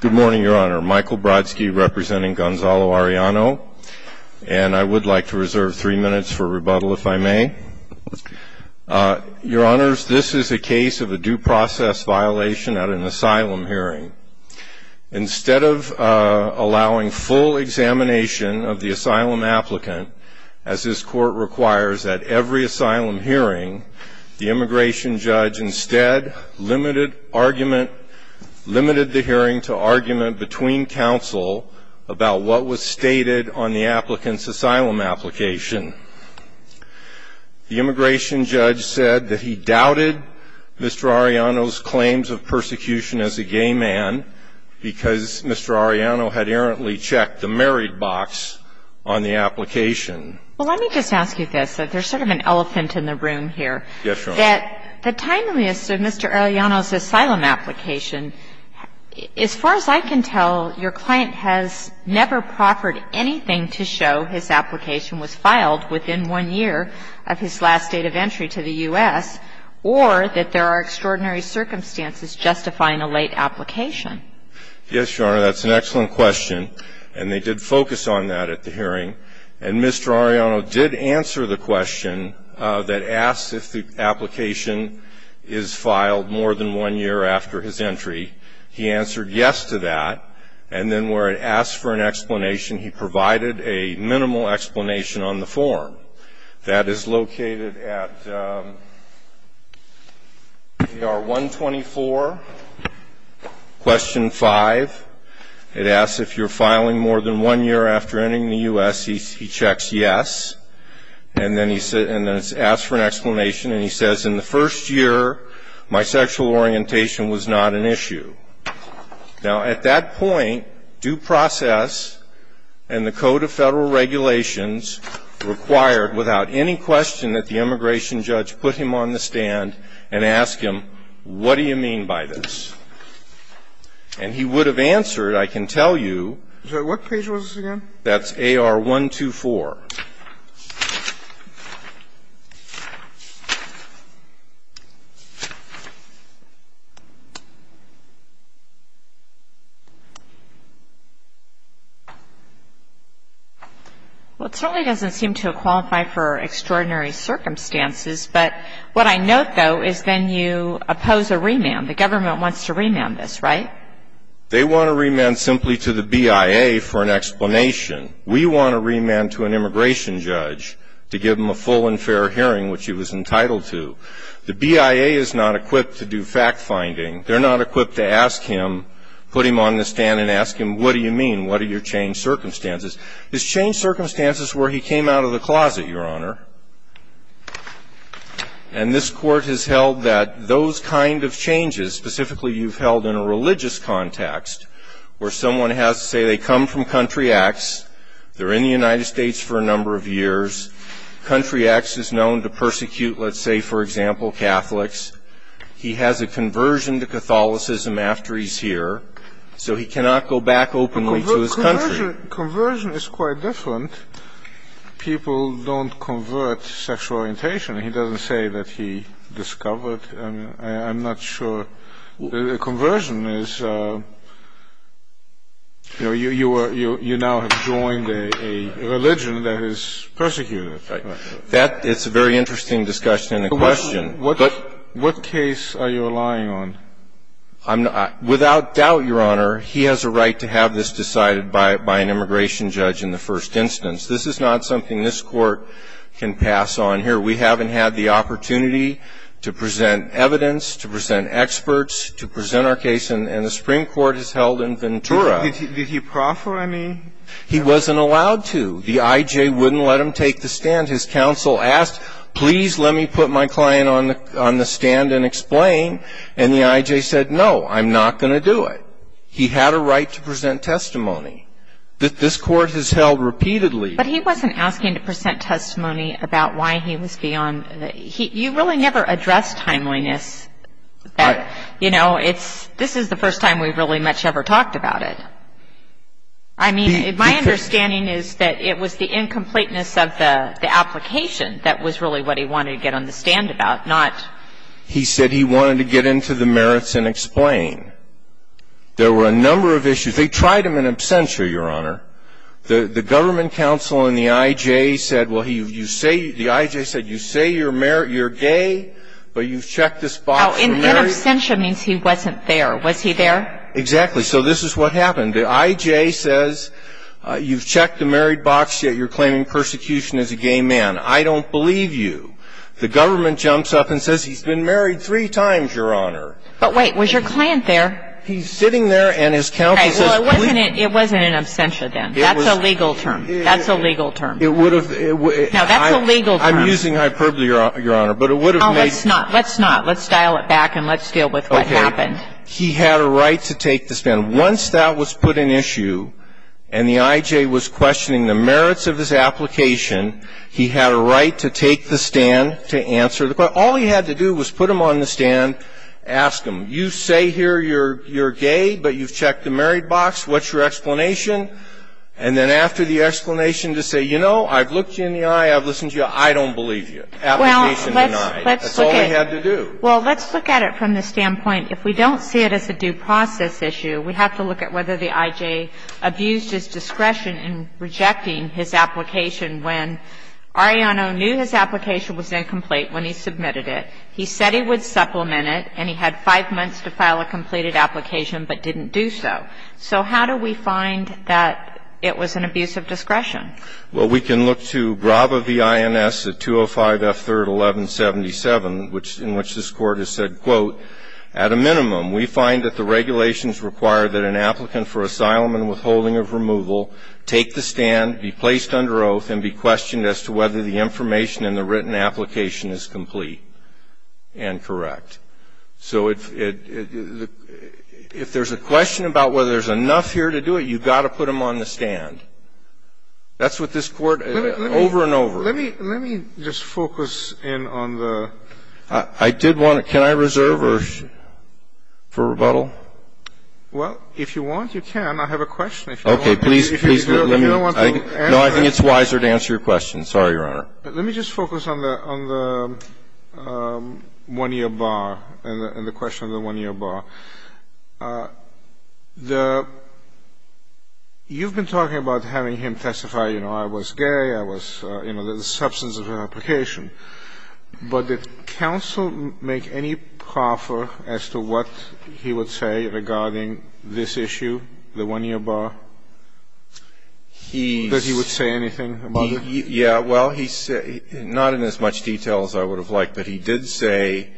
Good morning, Your Honor. Michael Brodsky representing Gonzalo Arellano, and I would like to reserve three minutes for rebuttal, if I may. Your Honors, this is a case of a due process violation at an asylum hearing. Instead of allowing full examination of the asylum applicant, as this Court requires at every asylum hearing, the immigration judge instead limited the hearing to argument between counsel about what was stated on the applicant's asylum application. The immigration judge said that he doubted Mr. Arellano's claims of persecution as a gay man because Mr. Arellano had errantly checked the married box on the application. And the immigration judge said that he doubted Mr. Arellano's claims of persecution Mr. Arellano did answer the question that asks if the application is filed more than one year after his entry. He answered yes to that. And then where it asks for an explanation, he provided a minimal explanation on the form. That is located at AR 124, question 5. It asks if you're filing more than one year after entering the U.S. He checks yes, and then it asks for an explanation, and he says, in the first year, my sexual orientation was not an issue. Now, at that point, due process and the Code of Federal Regulations required without any question that the immigration judge put him on the stand and ask him, what do you mean by this? And he would have answered, I can tell you. So what page was this again? That's AR 124. Well, it certainly doesn't seem to qualify for extraordinary circumstances. But what I note, though, is then you oppose a remand. The government wants to remand this, right? They want to remand simply to the BIA for an explanation. We want to remand to an immigration judge to give him a full and fair hearing, which he was entitled to. The BIA is not equipped to do fact-finding. They're not equipped to ask him, put him on the stand and ask him, what do you mean? What are your changed circumstances? His changed circumstances were he came out of the closet, Your Honor. And this Court has held that those kind of changes, specifically you've held in a religious context, where someone has to say they come from Country X, they're in the United States for a number of years. Country X is known to persecute, let's say, for example, Catholics. He has a conversion to Catholicism after he's here, so he cannot go back openly to his country. Conversion is quite different. People don't convert sexual orientation. He doesn't say that he discovered. I'm not sure. Conversion is, you know, you now have joined a religion that is persecuting. That is a very interesting discussion and question. What case are you relying on? I'm not. Without doubt, Your Honor, he has a right to have this decided by an immigration judge in the first instance. This is not something this Court can pass on here. We haven't had the opportunity to present evidence, to present experts, to present our case, and the Supreme Court has held in Ventura. Did he proffer any? He wasn't allowed to. The I.J. wouldn't let him take the stand. His counsel asked, please let me put my client on the stand and explain. And the I.J. said, no, I'm not going to do it. He had a right to present testimony. This Court has held repeatedly. But he wasn't asking to present testimony about why he was beyond. You really never addressed timeliness. You know, this is the first time we've really much ever talked about it. I mean, my understanding is that it was the incompleteness of the application that was really what he wanted to get on the stand about, not. He said he wanted to get into the merits and explain. There were a number of issues. They tried him in absentia, Your Honor. The government counsel and the I.J. said, well, you say you're gay, but you've checked this box. In absentia means he wasn't there. Was he there? Exactly. So this is what happened. The I.J. says, you've checked the married box, yet you're claiming persecution as a gay man. I don't believe you. The government jumps up and says, he's been married three times, Your Honor. But wait. Was your client there? He's sitting there and his counsel says, please. All right. Well, it wasn't in absentia then. That's a legal term. That's a legal term. It would have. No, that's a legal term. I'm using hyperbole, Your Honor, but it would have made. No, let's not. Let's not. Let's dial it back and let's deal with what happened. Okay. He had a right to take the stand. Once that was put in issue and the I.J. was questioning the merits of his application, he had a right to take the stand to answer the question. All he had to do was put him on the stand, ask him, you say here you're gay, but you've checked the married box. What's your explanation? And then after the explanation, just say, you know, I've looked you in the eye. I've listened to you. I don't believe you. Application denied. That's all he had to do. Well, let's look at it from the standpoint, if we don't see it as a due process issue, we have to look at whether the I.J. abused his discretion in rejecting his application when Ariano knew his application was incomplete when he submitted it. He said he would supplement it, and he had 5 months to file a completed application but didn't do so. So how do we find that it was an abuse of discretion? Well, we can look to BRAVA v. INS at 205 F. 3rd, 1177, in which this Court has said, quote, at a minimum, we find that the regulations require that an applicant for asylum and withholding of removal take the stand, be placed under oath, and be questioned as to whether the information in the written application is complete and correct. So if there's a question about whether there's enough here to do it, you've got to put him on the stand. That's what this Court over and over. Let me just focus in on the ---- I did want to ---- Can I reserve her for rebuttal? Well, if you want, you can. I have a question if you want. Okay. Please, please let me ---- If you don't want to answer ---- No, I think it's wiser to answer your question. Sorry, Your Honor. Let me just focus on the one-year bar and the question of the one-year bar. The ---- you've been talking about having him testify, you know, I was gay, I was, you know, the substance of her application. But did counsel make any proffer as to what he would say regarding this issue, the one-year bar? He's ---- That he would say anything about it? Yeah. Well, he's not in as much detail as I would have liked, but he did say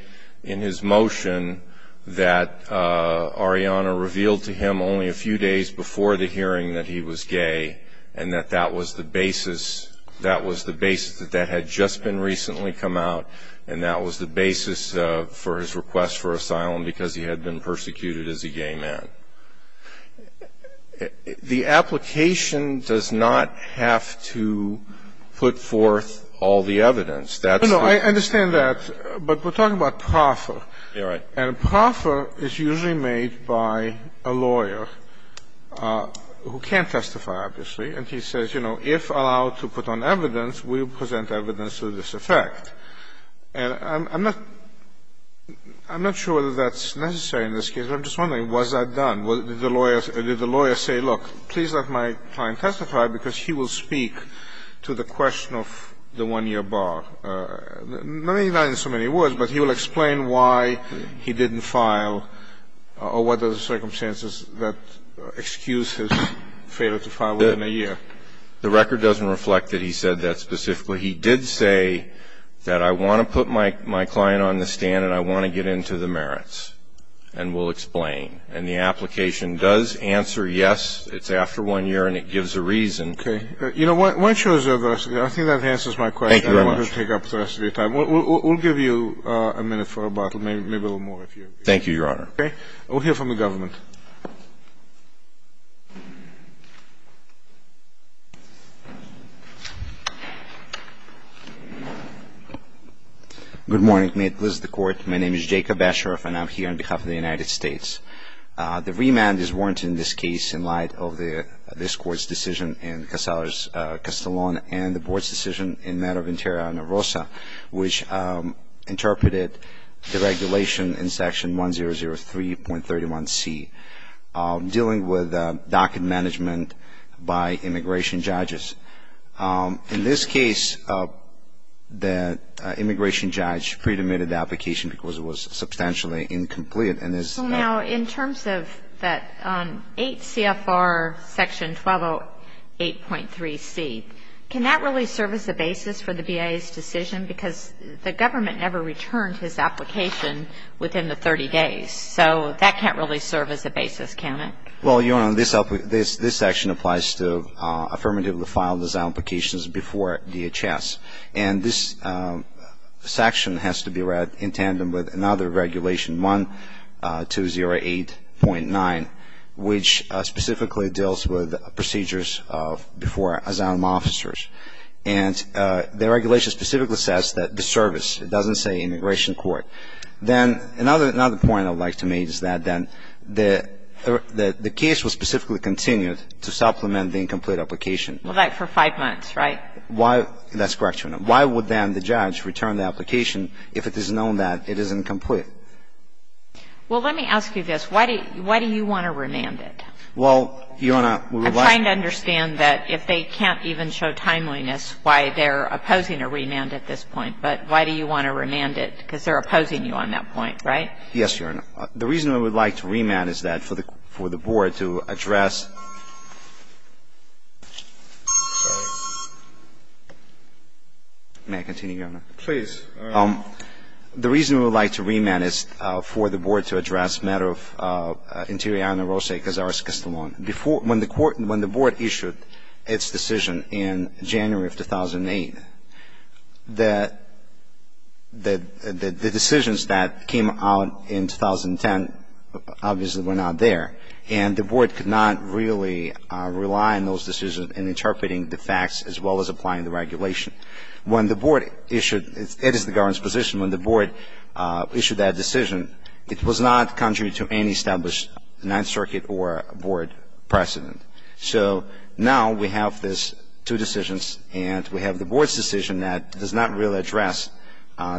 in his motion that Ariana revealed to him only a few days before the hearing that he was gay and that that was the basis, that was the basis that that had just been recently come out and that was the basis for his request for asylum because he had been persecuted as a gay man. The application does not have to put forth all the evidence. That's the ---- No, no, I understand that. But we're talking about proffer. You're right. And proffer is usually made by a lawyer who can't testify, obviously, and he says, you know, if allowed to put on evidence, we will present evidence to this effect. And I'm not sure whether that's necessary in this case, but I'm just wondering, was that done? Did the lawyer say, look, please let my client testify because he will speak to the question of the one-year bar? Not in so many words, but he will explain why he didn't file or what are the circumstances that excuse his failure to file within a year. The record doesn't reflect that he said that specifically. He did say that I want to put my client on the stand and I want to get into the merits and will explain. And the application does answer yes. It's after one year and it gives a reason. Okay. You know, I think that answers my question. Thank you very much. I don't want to take up the rest of your time. We'll give you a minute for a bottle, maybe a little more. Thank you, Your Honor. Okay. We'll hear from the government. Good morning. May it please the Court. My name is Jacob Asheroff and I'm here on behalf of the United States. The remand is warranted in this case in light of this Court's decision in Castellon and the Board's decision in matter of interior on Narosa, which interpreted the regulation in Section 1003.31c, dealing with docket management by immigration judges. In this case, the immigration judge predominated the application because it was substantially incomplete. Now, in terms of that 8 CFR Section 1208.3c, can that really serve as a basis for the BIA's decision? Because the government never returned his application within the 30 days. So that can't really serve as a basis, can it? Well, Your Honor, this section applies to affirmatively filed as applications before DHS. And this section has to be read in tandem with another regulation. Section 1208.9, which specifically deals with procedures before asylum officers. And the regulation specifically says that the service, it doesn't say immigration court. Then another point I would like to make is that then the case was specifically continued to supplement the incomplete application. Well, like for five months, right? That's correct, Your Honor. And why would then the judge return the application if it is known that it is incomplete? Well, let me ask you this. Why do you want to remand it? Well, Your Honor, we would like to remand it. I'm trying to understand that if they can't even show timeliness why they're opposing a remand at this point. But why do you want to remand it? Because they're opposing you on that point, right? Yes, Your Honor. The reason we would like to remand is that for the Board to address ---- May I continue, Your Honor? Please. The reason we would like to remand is for the Board to address matter of Interiana Rose Cazares-Castellon. When the Board issued its decision in January of 2008, the decisions that came out in 2010 obviously were not there. And the Board could not really rely on those decisions in interpreting the facts as well as applying the regulation. When the Board issued ---- it is the government's position when the Board issued that decision, it was not contrary to any established Ninth Circuit or Board precedent. So now we have these two decisions, and we have the Board's decision that does not really address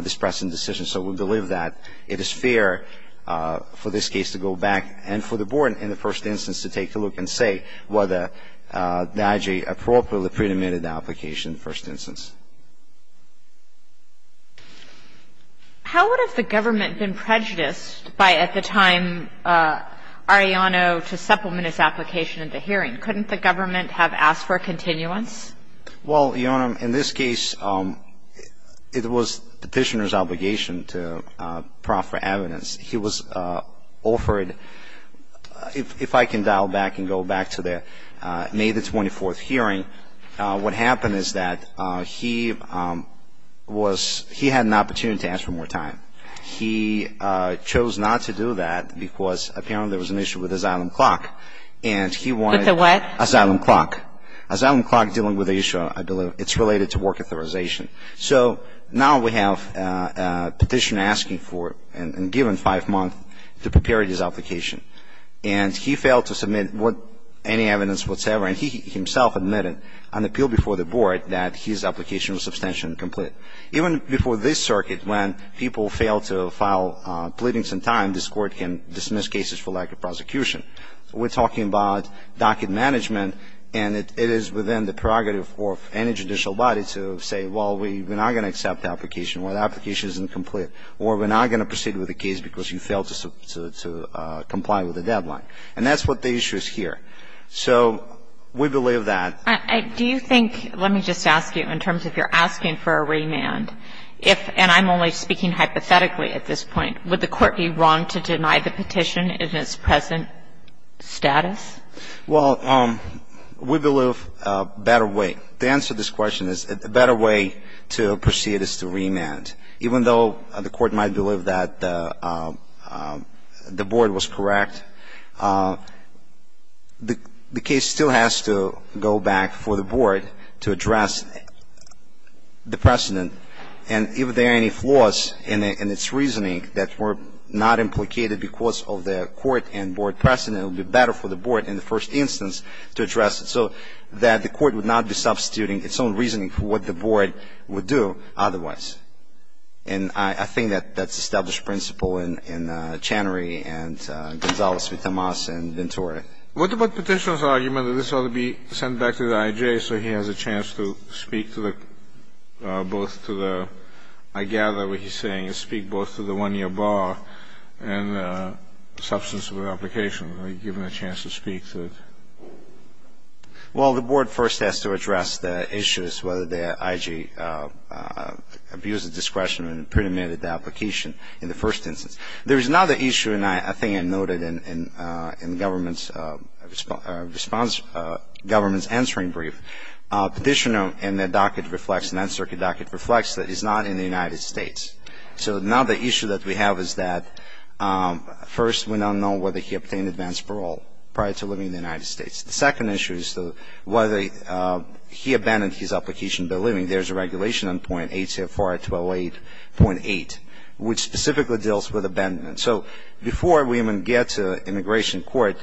this precedent decision. So we believe that it is fair for this case to go back and for the Board in the first instance to take a look and say whether the IG appropriately pre-demanded the application in the first instance. How would have the government been prejudiced by, at the time, Arellano to supplement his application at the hearing? Couldn't the government have asked for a continuance? Well, Your Honor, in this case, it was Petitioner's obligation to proffer evidence. He was offered ---- if I can dial back and go back to the May the 24th hearing, what happened is that he was ---- he had an opportunity to ask for more time. He chose not to do that because apparently there was an issue with asylum clock. And he wanted ---- With a what? Asylum clock. Asylum clock dealing with the issue, I believe, it's related to work authorization. So now we have Petitioner asking for and given five months to prepare his application. And he failed to submit any evidence whatsoever. And he himself admitted on appeal before the board that his application was substantially incomplete. Even before this circuit, when people fail to file pleadings in time, this Court can dismiss cases for lack of prosecution. We're talking about docket management, and it is within the prerogative of any judicial body to say, well, we're not going to accept the application, or the application isn't complete, or we're not going to proceed with the case because you failed to comply with the deadline. And that's what the issue is here. So we believe that ---- Do you think ---- let me just ask you in terms of if you're asking for a remand, if, and I'm only speaking hypothetically at this point, would the Court be wrong to deny the petition in its present status? Well, we believe a better way. The answer to this question is a better way to proceed is to remand. Even though the Court might believe that the board was correct, the case still has to go back for the board to address the precedent. And if there are any flaws in its reasoning that were not implicated because of the court and board precedent, it would be better for the board in the first instance to address it so that the court would not be substituting its own reasoning for what the board would do otherwise. And I think that that's established principle in Channery and Gonzales v. Tomas and Ventura. What about Petitioner's argument that this ought to be sent back to the I.J. so he has a chance to speak to the, both to the, I gather what he's saying, is speak both to the one-year bar and substance of the application, given a chance to speak to it? Well, the board first has to address the issues whether the I.J. abused the discretion and predominated the application in the first instance. There is another issue, and I think I noted in the government's answering brief. Petitioner in the docket reflects, in that circuit docket, reflects that he's not in the United States. So another issue that we have is that, first, we don't know whether he obtained advance parole prior to living in the United States. The second issue is whether he abandoned his application by living. There's a regulation on .8 CFR 1208.8, which specifically deals with abandonment. So before we even get to immigration court,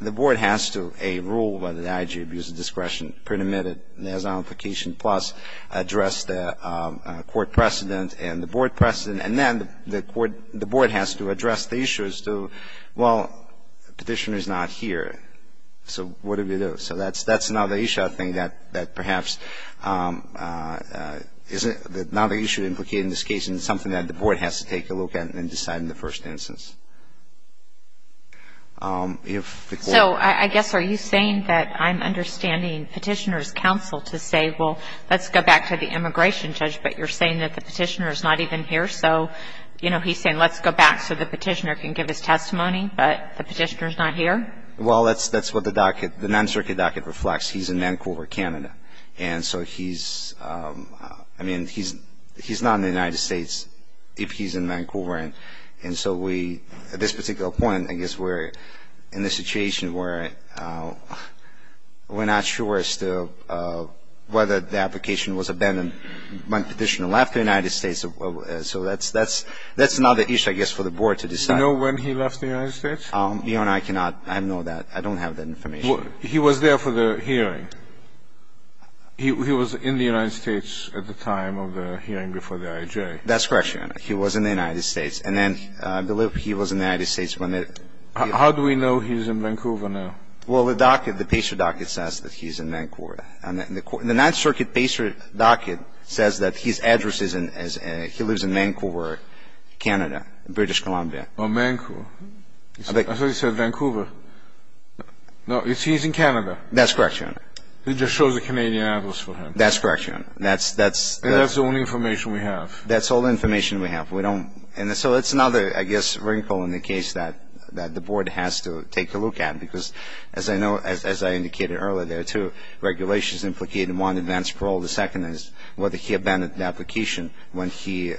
the board has to rule whether the I.J. abused the discretion, predominated, and has an application, plus address the court precedent and the board precedent. And then the board has to address the issue as to, well, Petitioner's not here. So what do we do? So that's another issue, I think, that perhaps is another issue implicated in this case and something that the board has to take a look at and decide in the first instance. So I guess are you saying that I'm understanding Petitioner's counsel to say, well, let's go back to the immigration judge, but you're saying that the Petitioner's not even here? So, you know, he's saying let's go back so the Petitioner can give his testimony, but the Petitioner's not here? Well, that's what the docket, the non-circuit docket reflects. He's in Vancouver, Canada. And so he's, I mean, he's not in the United States if he's in Vancouver. And so we, at this particular point, I guess we're in a situation where we're not sure still whether the application was abandoned when Petitioner left the United States. So that's another issue, I guess, for the board to decide. Do you know when he left the United States? Your Honor, I cannot. I don't know that. I don't have that information. He was there for the hearing. He was in the United States at the time of the hearing before the I.J. That's correct, Your Honor. He was in the United States. And then I believe he was in the United States when the ---- How do we know he's in Vancouver now? Well, the docket, the Patriot docket says that he's in Vancouver. And the non-circuit Patriot docket says that his address is in, he lives in Vancouver, Canada, British Columbia. Oh, Vancouver. I thought you said Vancouver. No, he's in Canada. That's correct, Your Honor. He just shows the Canadian address for him. That's correct, Your Honor. That's the only information we have. That's all the information we have. We don't ---- And so it's another, I guess, wrinkle in the case that the board has to take a look at. Because, as I know, as I indicated earlier, there are two regulations implicated, one, advanced parole. The second is whether he abandoned the application when he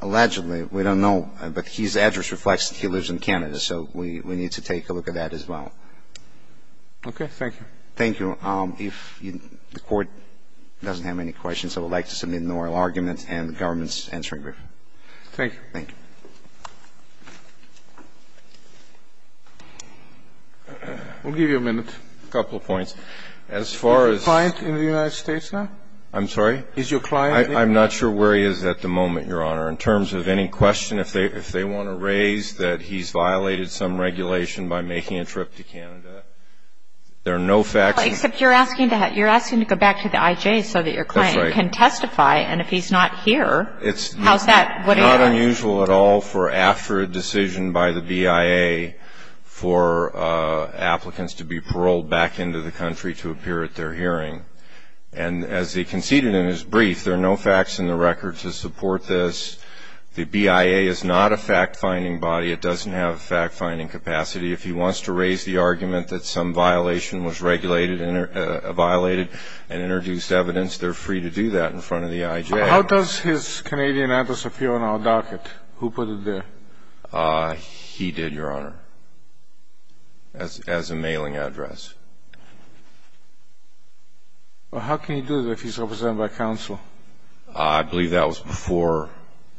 allegedly, we don't know, but his address reflects that he lives in Canada. So we need to take a look at that as well. Okay. Thank you. Thank you. If the Court doesn't have any questions, I would like to submit an oral argument and the government's answering brief. Thank you. Thank you. We'll give you a minute. A couple of points. As far as ---- Is he a client in the United States now? I'm sorry? Is your client ---- I'm not sure where he is at the moment, Your Honor. In terms of any question, if they want to raise that he's violated some regulation by making a trip to Canada, there are no facts ---- Except you're asking to go back to the IJ so that your client can testify. That's right. And if he's not here, how's that ---- It's not unusual at all for after a decision by the BIA for applicants to be paroled back into the country to appear at their hearing. And as he conceded in his brief, there are no facts in the record to support this. The BIA is not a fact-finding body. It doesn't have a fact-finding capacity. If he wants to raise the argument that some violation was regulated and violated and introduced evidence, they're free to do that in front of the IJ. How does his Canadian address appear on our docket? Who put it there? He did, Your Honor, as a mailing address. Well, how can you do that if he's represented by counsel? I believe that was before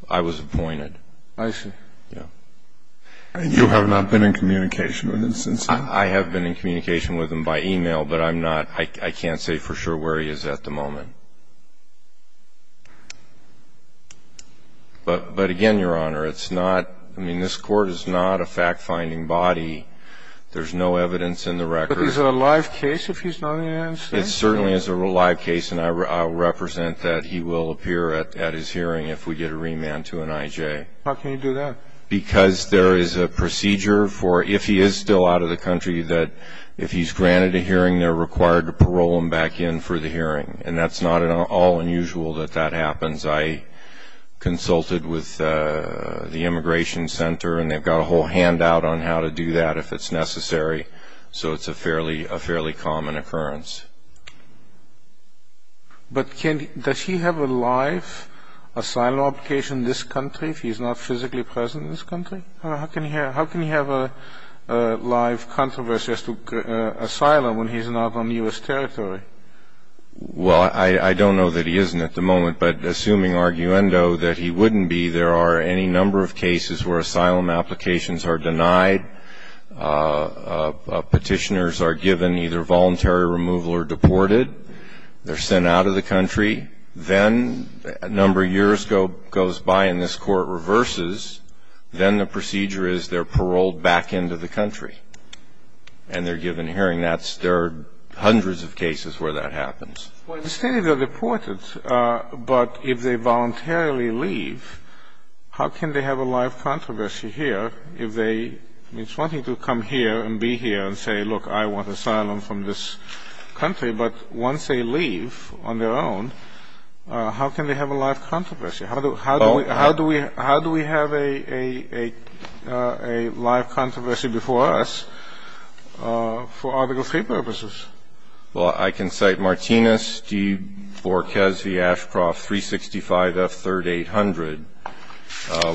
I was appointed. I see. Yeah. And you have not been in communication with him since then? I have been in communication with him by e-mail, but I'm not ---- I can't say for sure where he is at the moment. But, again, Your Honor, it's not ---- I mean, this Court is not a fact-finding body. There's no evidence in the record. But is it a live case if he's not in the United States? It certainly is a live case, and I represent that he will appear at his hearing if we get a remand to an IJ. How can you do that? Because there is a procedure for, if he is still out of the country, that if he's granted a hearing, they're required to parole him back in for the hearing. And that's not at all unusual that that happens. I consulted with the Immigration Center, and they've got a whole handout on how to do that if it's necessary. So it's a fairly common occurrence. But does he have a live asylum application in this country if he's not physically present in this country? How can he have a live controversy as to asylum when he's not on U.S. territory? Well, I don't know that he isn't at the moment, but assuming arguendo that he wouldn't be, there are any number of cases where asylum applications are denied. Petitioners are given either voluntary removal or deported. They're sent out of the country. Then a number of years goes by, and this Court reverses. Then the procedure is they're paroled back into the country, and they're given a hearing. There are hundreds of cases where that happens. Well, it's stated they're deported, but if they voluntarily leave, how can they have a live controversy here if they are wanting to come here and be here and say, look, I want asylum from this country? But once they leave on their own, how can they have a live controversy? How do we have a live controversy before us for Article III purposes? Well, I can cite Martinez v. Ashcroft, 365 F. 3rd 800,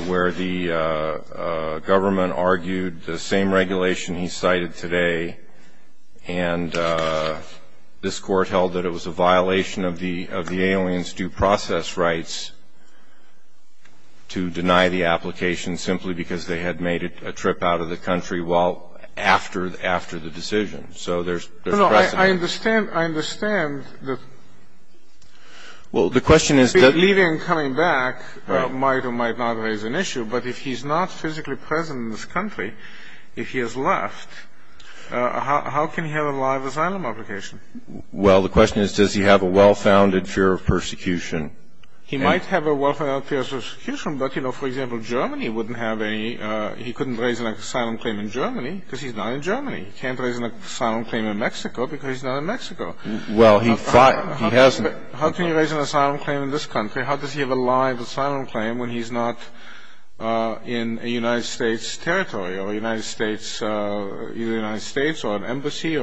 where the government argued the same regulation he cited today, and this Court held that it was a violation of the alien's due process rights to deny the application simply because they had made a trip out of the country well after the decision. So there's precedent. No, no, I understand. I understand that leaving and coming back might or might not raise an issue, but if he's not physically present in this country, if he has left, how can he have a live asylum application? Well, the question is does he have a well-founded fear of persecution? He might have a well-founded fear of persecution, but, you know, for example, Germany wouldn't have any. He couldn't raise an asylum claim in Germany because he's not in Germany. He can't raise an asylum claim in Mexico because he's not in Mexico. Well, he hasn't. How can he raise an asylum claim in this country? How does he have a live asylum claim when he's not in a United States territory or a United States, either a United States or an embassy?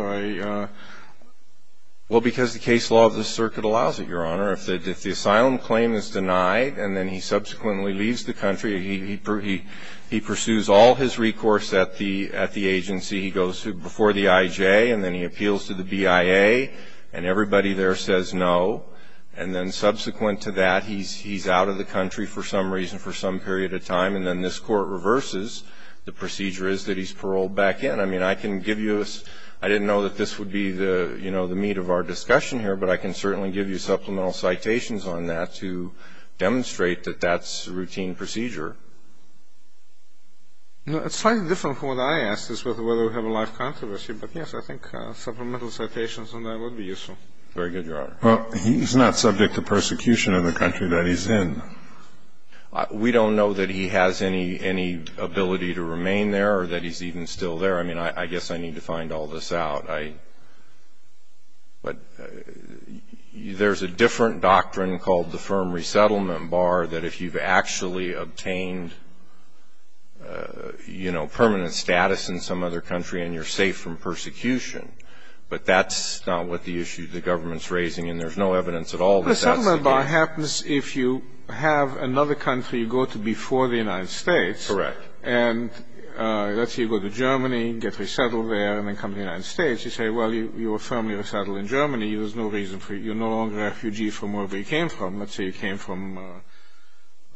Well, because the case law of the circuit allows it, Your Honor. If the asylum claim is denied and then he subsequently leaves the country, he pursues all his recourse at the agency. He goes before the IJ, and then he appeals to the BIA, and everybody there says no. And then subsequent to that, he's out of the country for some reason for some period of time, and then this Court reverses. The procedure is that he's paroled back in. I mean, I can give you a – I didn't know that this would be the, you know, the meat of our discussion here, but I can certainly give you supplemental citations on that to demonstrate that that's a routine procedure. It's slightly different from what I asked as to whether we have a live controversy, but yes, I think supplemental citations on that would be useful. Very good, Your Honor. Well, he's not subject to persecution in the country that he's in. We don't know that he has any ability to remain there or that he's even still there. I mean, I guess I need to find all this out. But there's a different doctrine called the firm resettlement bar that if you've actually obtained, you know, permanent status in some other country and you're safe from persecution. But that's not what the issue the government's raising, and there's no evidence at all that that's the case. The resettlement bar happens if you have another country you go to before the United States. Correct. And let's say you go to Germany, get resettled there, and then come to the United States. You say, well, you were firmly resettled in Germany. There's no reason for you. You're no longer a refugee from wherever you came from. Let's say you came from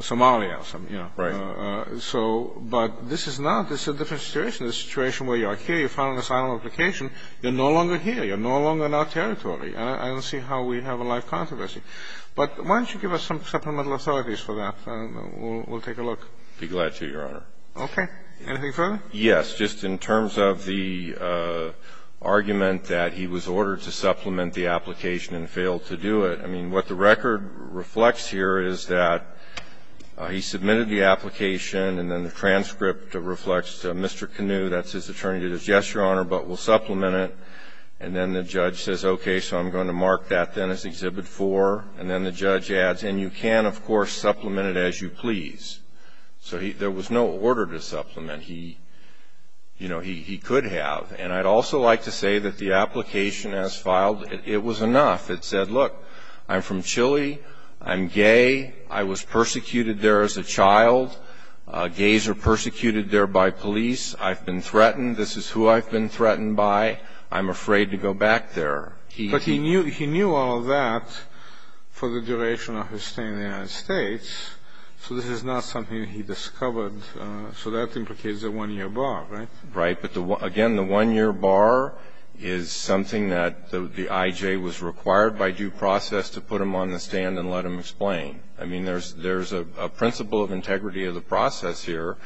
Somalia or something. Right. But this is not. This is a different situation. This is a situation where you're here, you file an asylum application. You're no longer here. You're no longer in our territory. And I don't see how we have a live controversy. But why don't you give us some supplemental authorities for that? We'll take a look. I'd be glad to, Your Honor. Okay. Anything further? Yes. Just in terms of the argument that he was ordered to supplement the application and failed to do it, I mean, what the record reflects here is that he submitted the application, and then the transcript reflects Mr. Canut, that's his attorney, that says, yes, Your Honor, but we'll supplement it. And then the judge says, okay, so I'm going to mark that then as Exhibit 4. And then the judge adds, and you can, of course, supplement it as you please. So there was no order to supplement. He could have. And I'd also like to say that the application as filed, it was enough. It said, look, I'm from Chile. I'm gay. I was persecuted there as a child. Gays are persecuted there by police. I've been threatened. This is who I've been threatened by. I'm afraid to go back there. But he knew all of that for the duration of his stay in the United States, so this is not something that he discovered. So that implicates a 1-year bar, right? Right. But, again, the 1-year bar is something that the I.J. was required by due process to put him on the stand and let him explain. I mean, there's a principle of integrity of the process here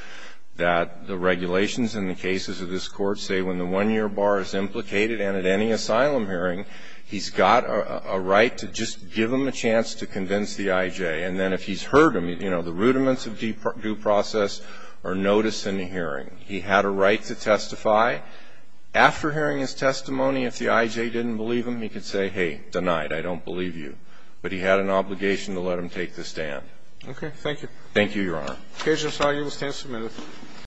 that the regulations in the cases of this Court say when the 1-year bar is implicated and at any asylum hearing, he's got a right to just give him a chance to convince the I.J. And then if he's heard him, you know, the rudiments of due process are noticed in the hearing. He had a right to testify. After hearing his testimony, if the I.J. didn't believe him, he could say, hey, denied, I don't believe you. But he had an obligation to let him take the stand. Okay. Thank you. Thank you, Your Honor. The case is now able to stand submitted.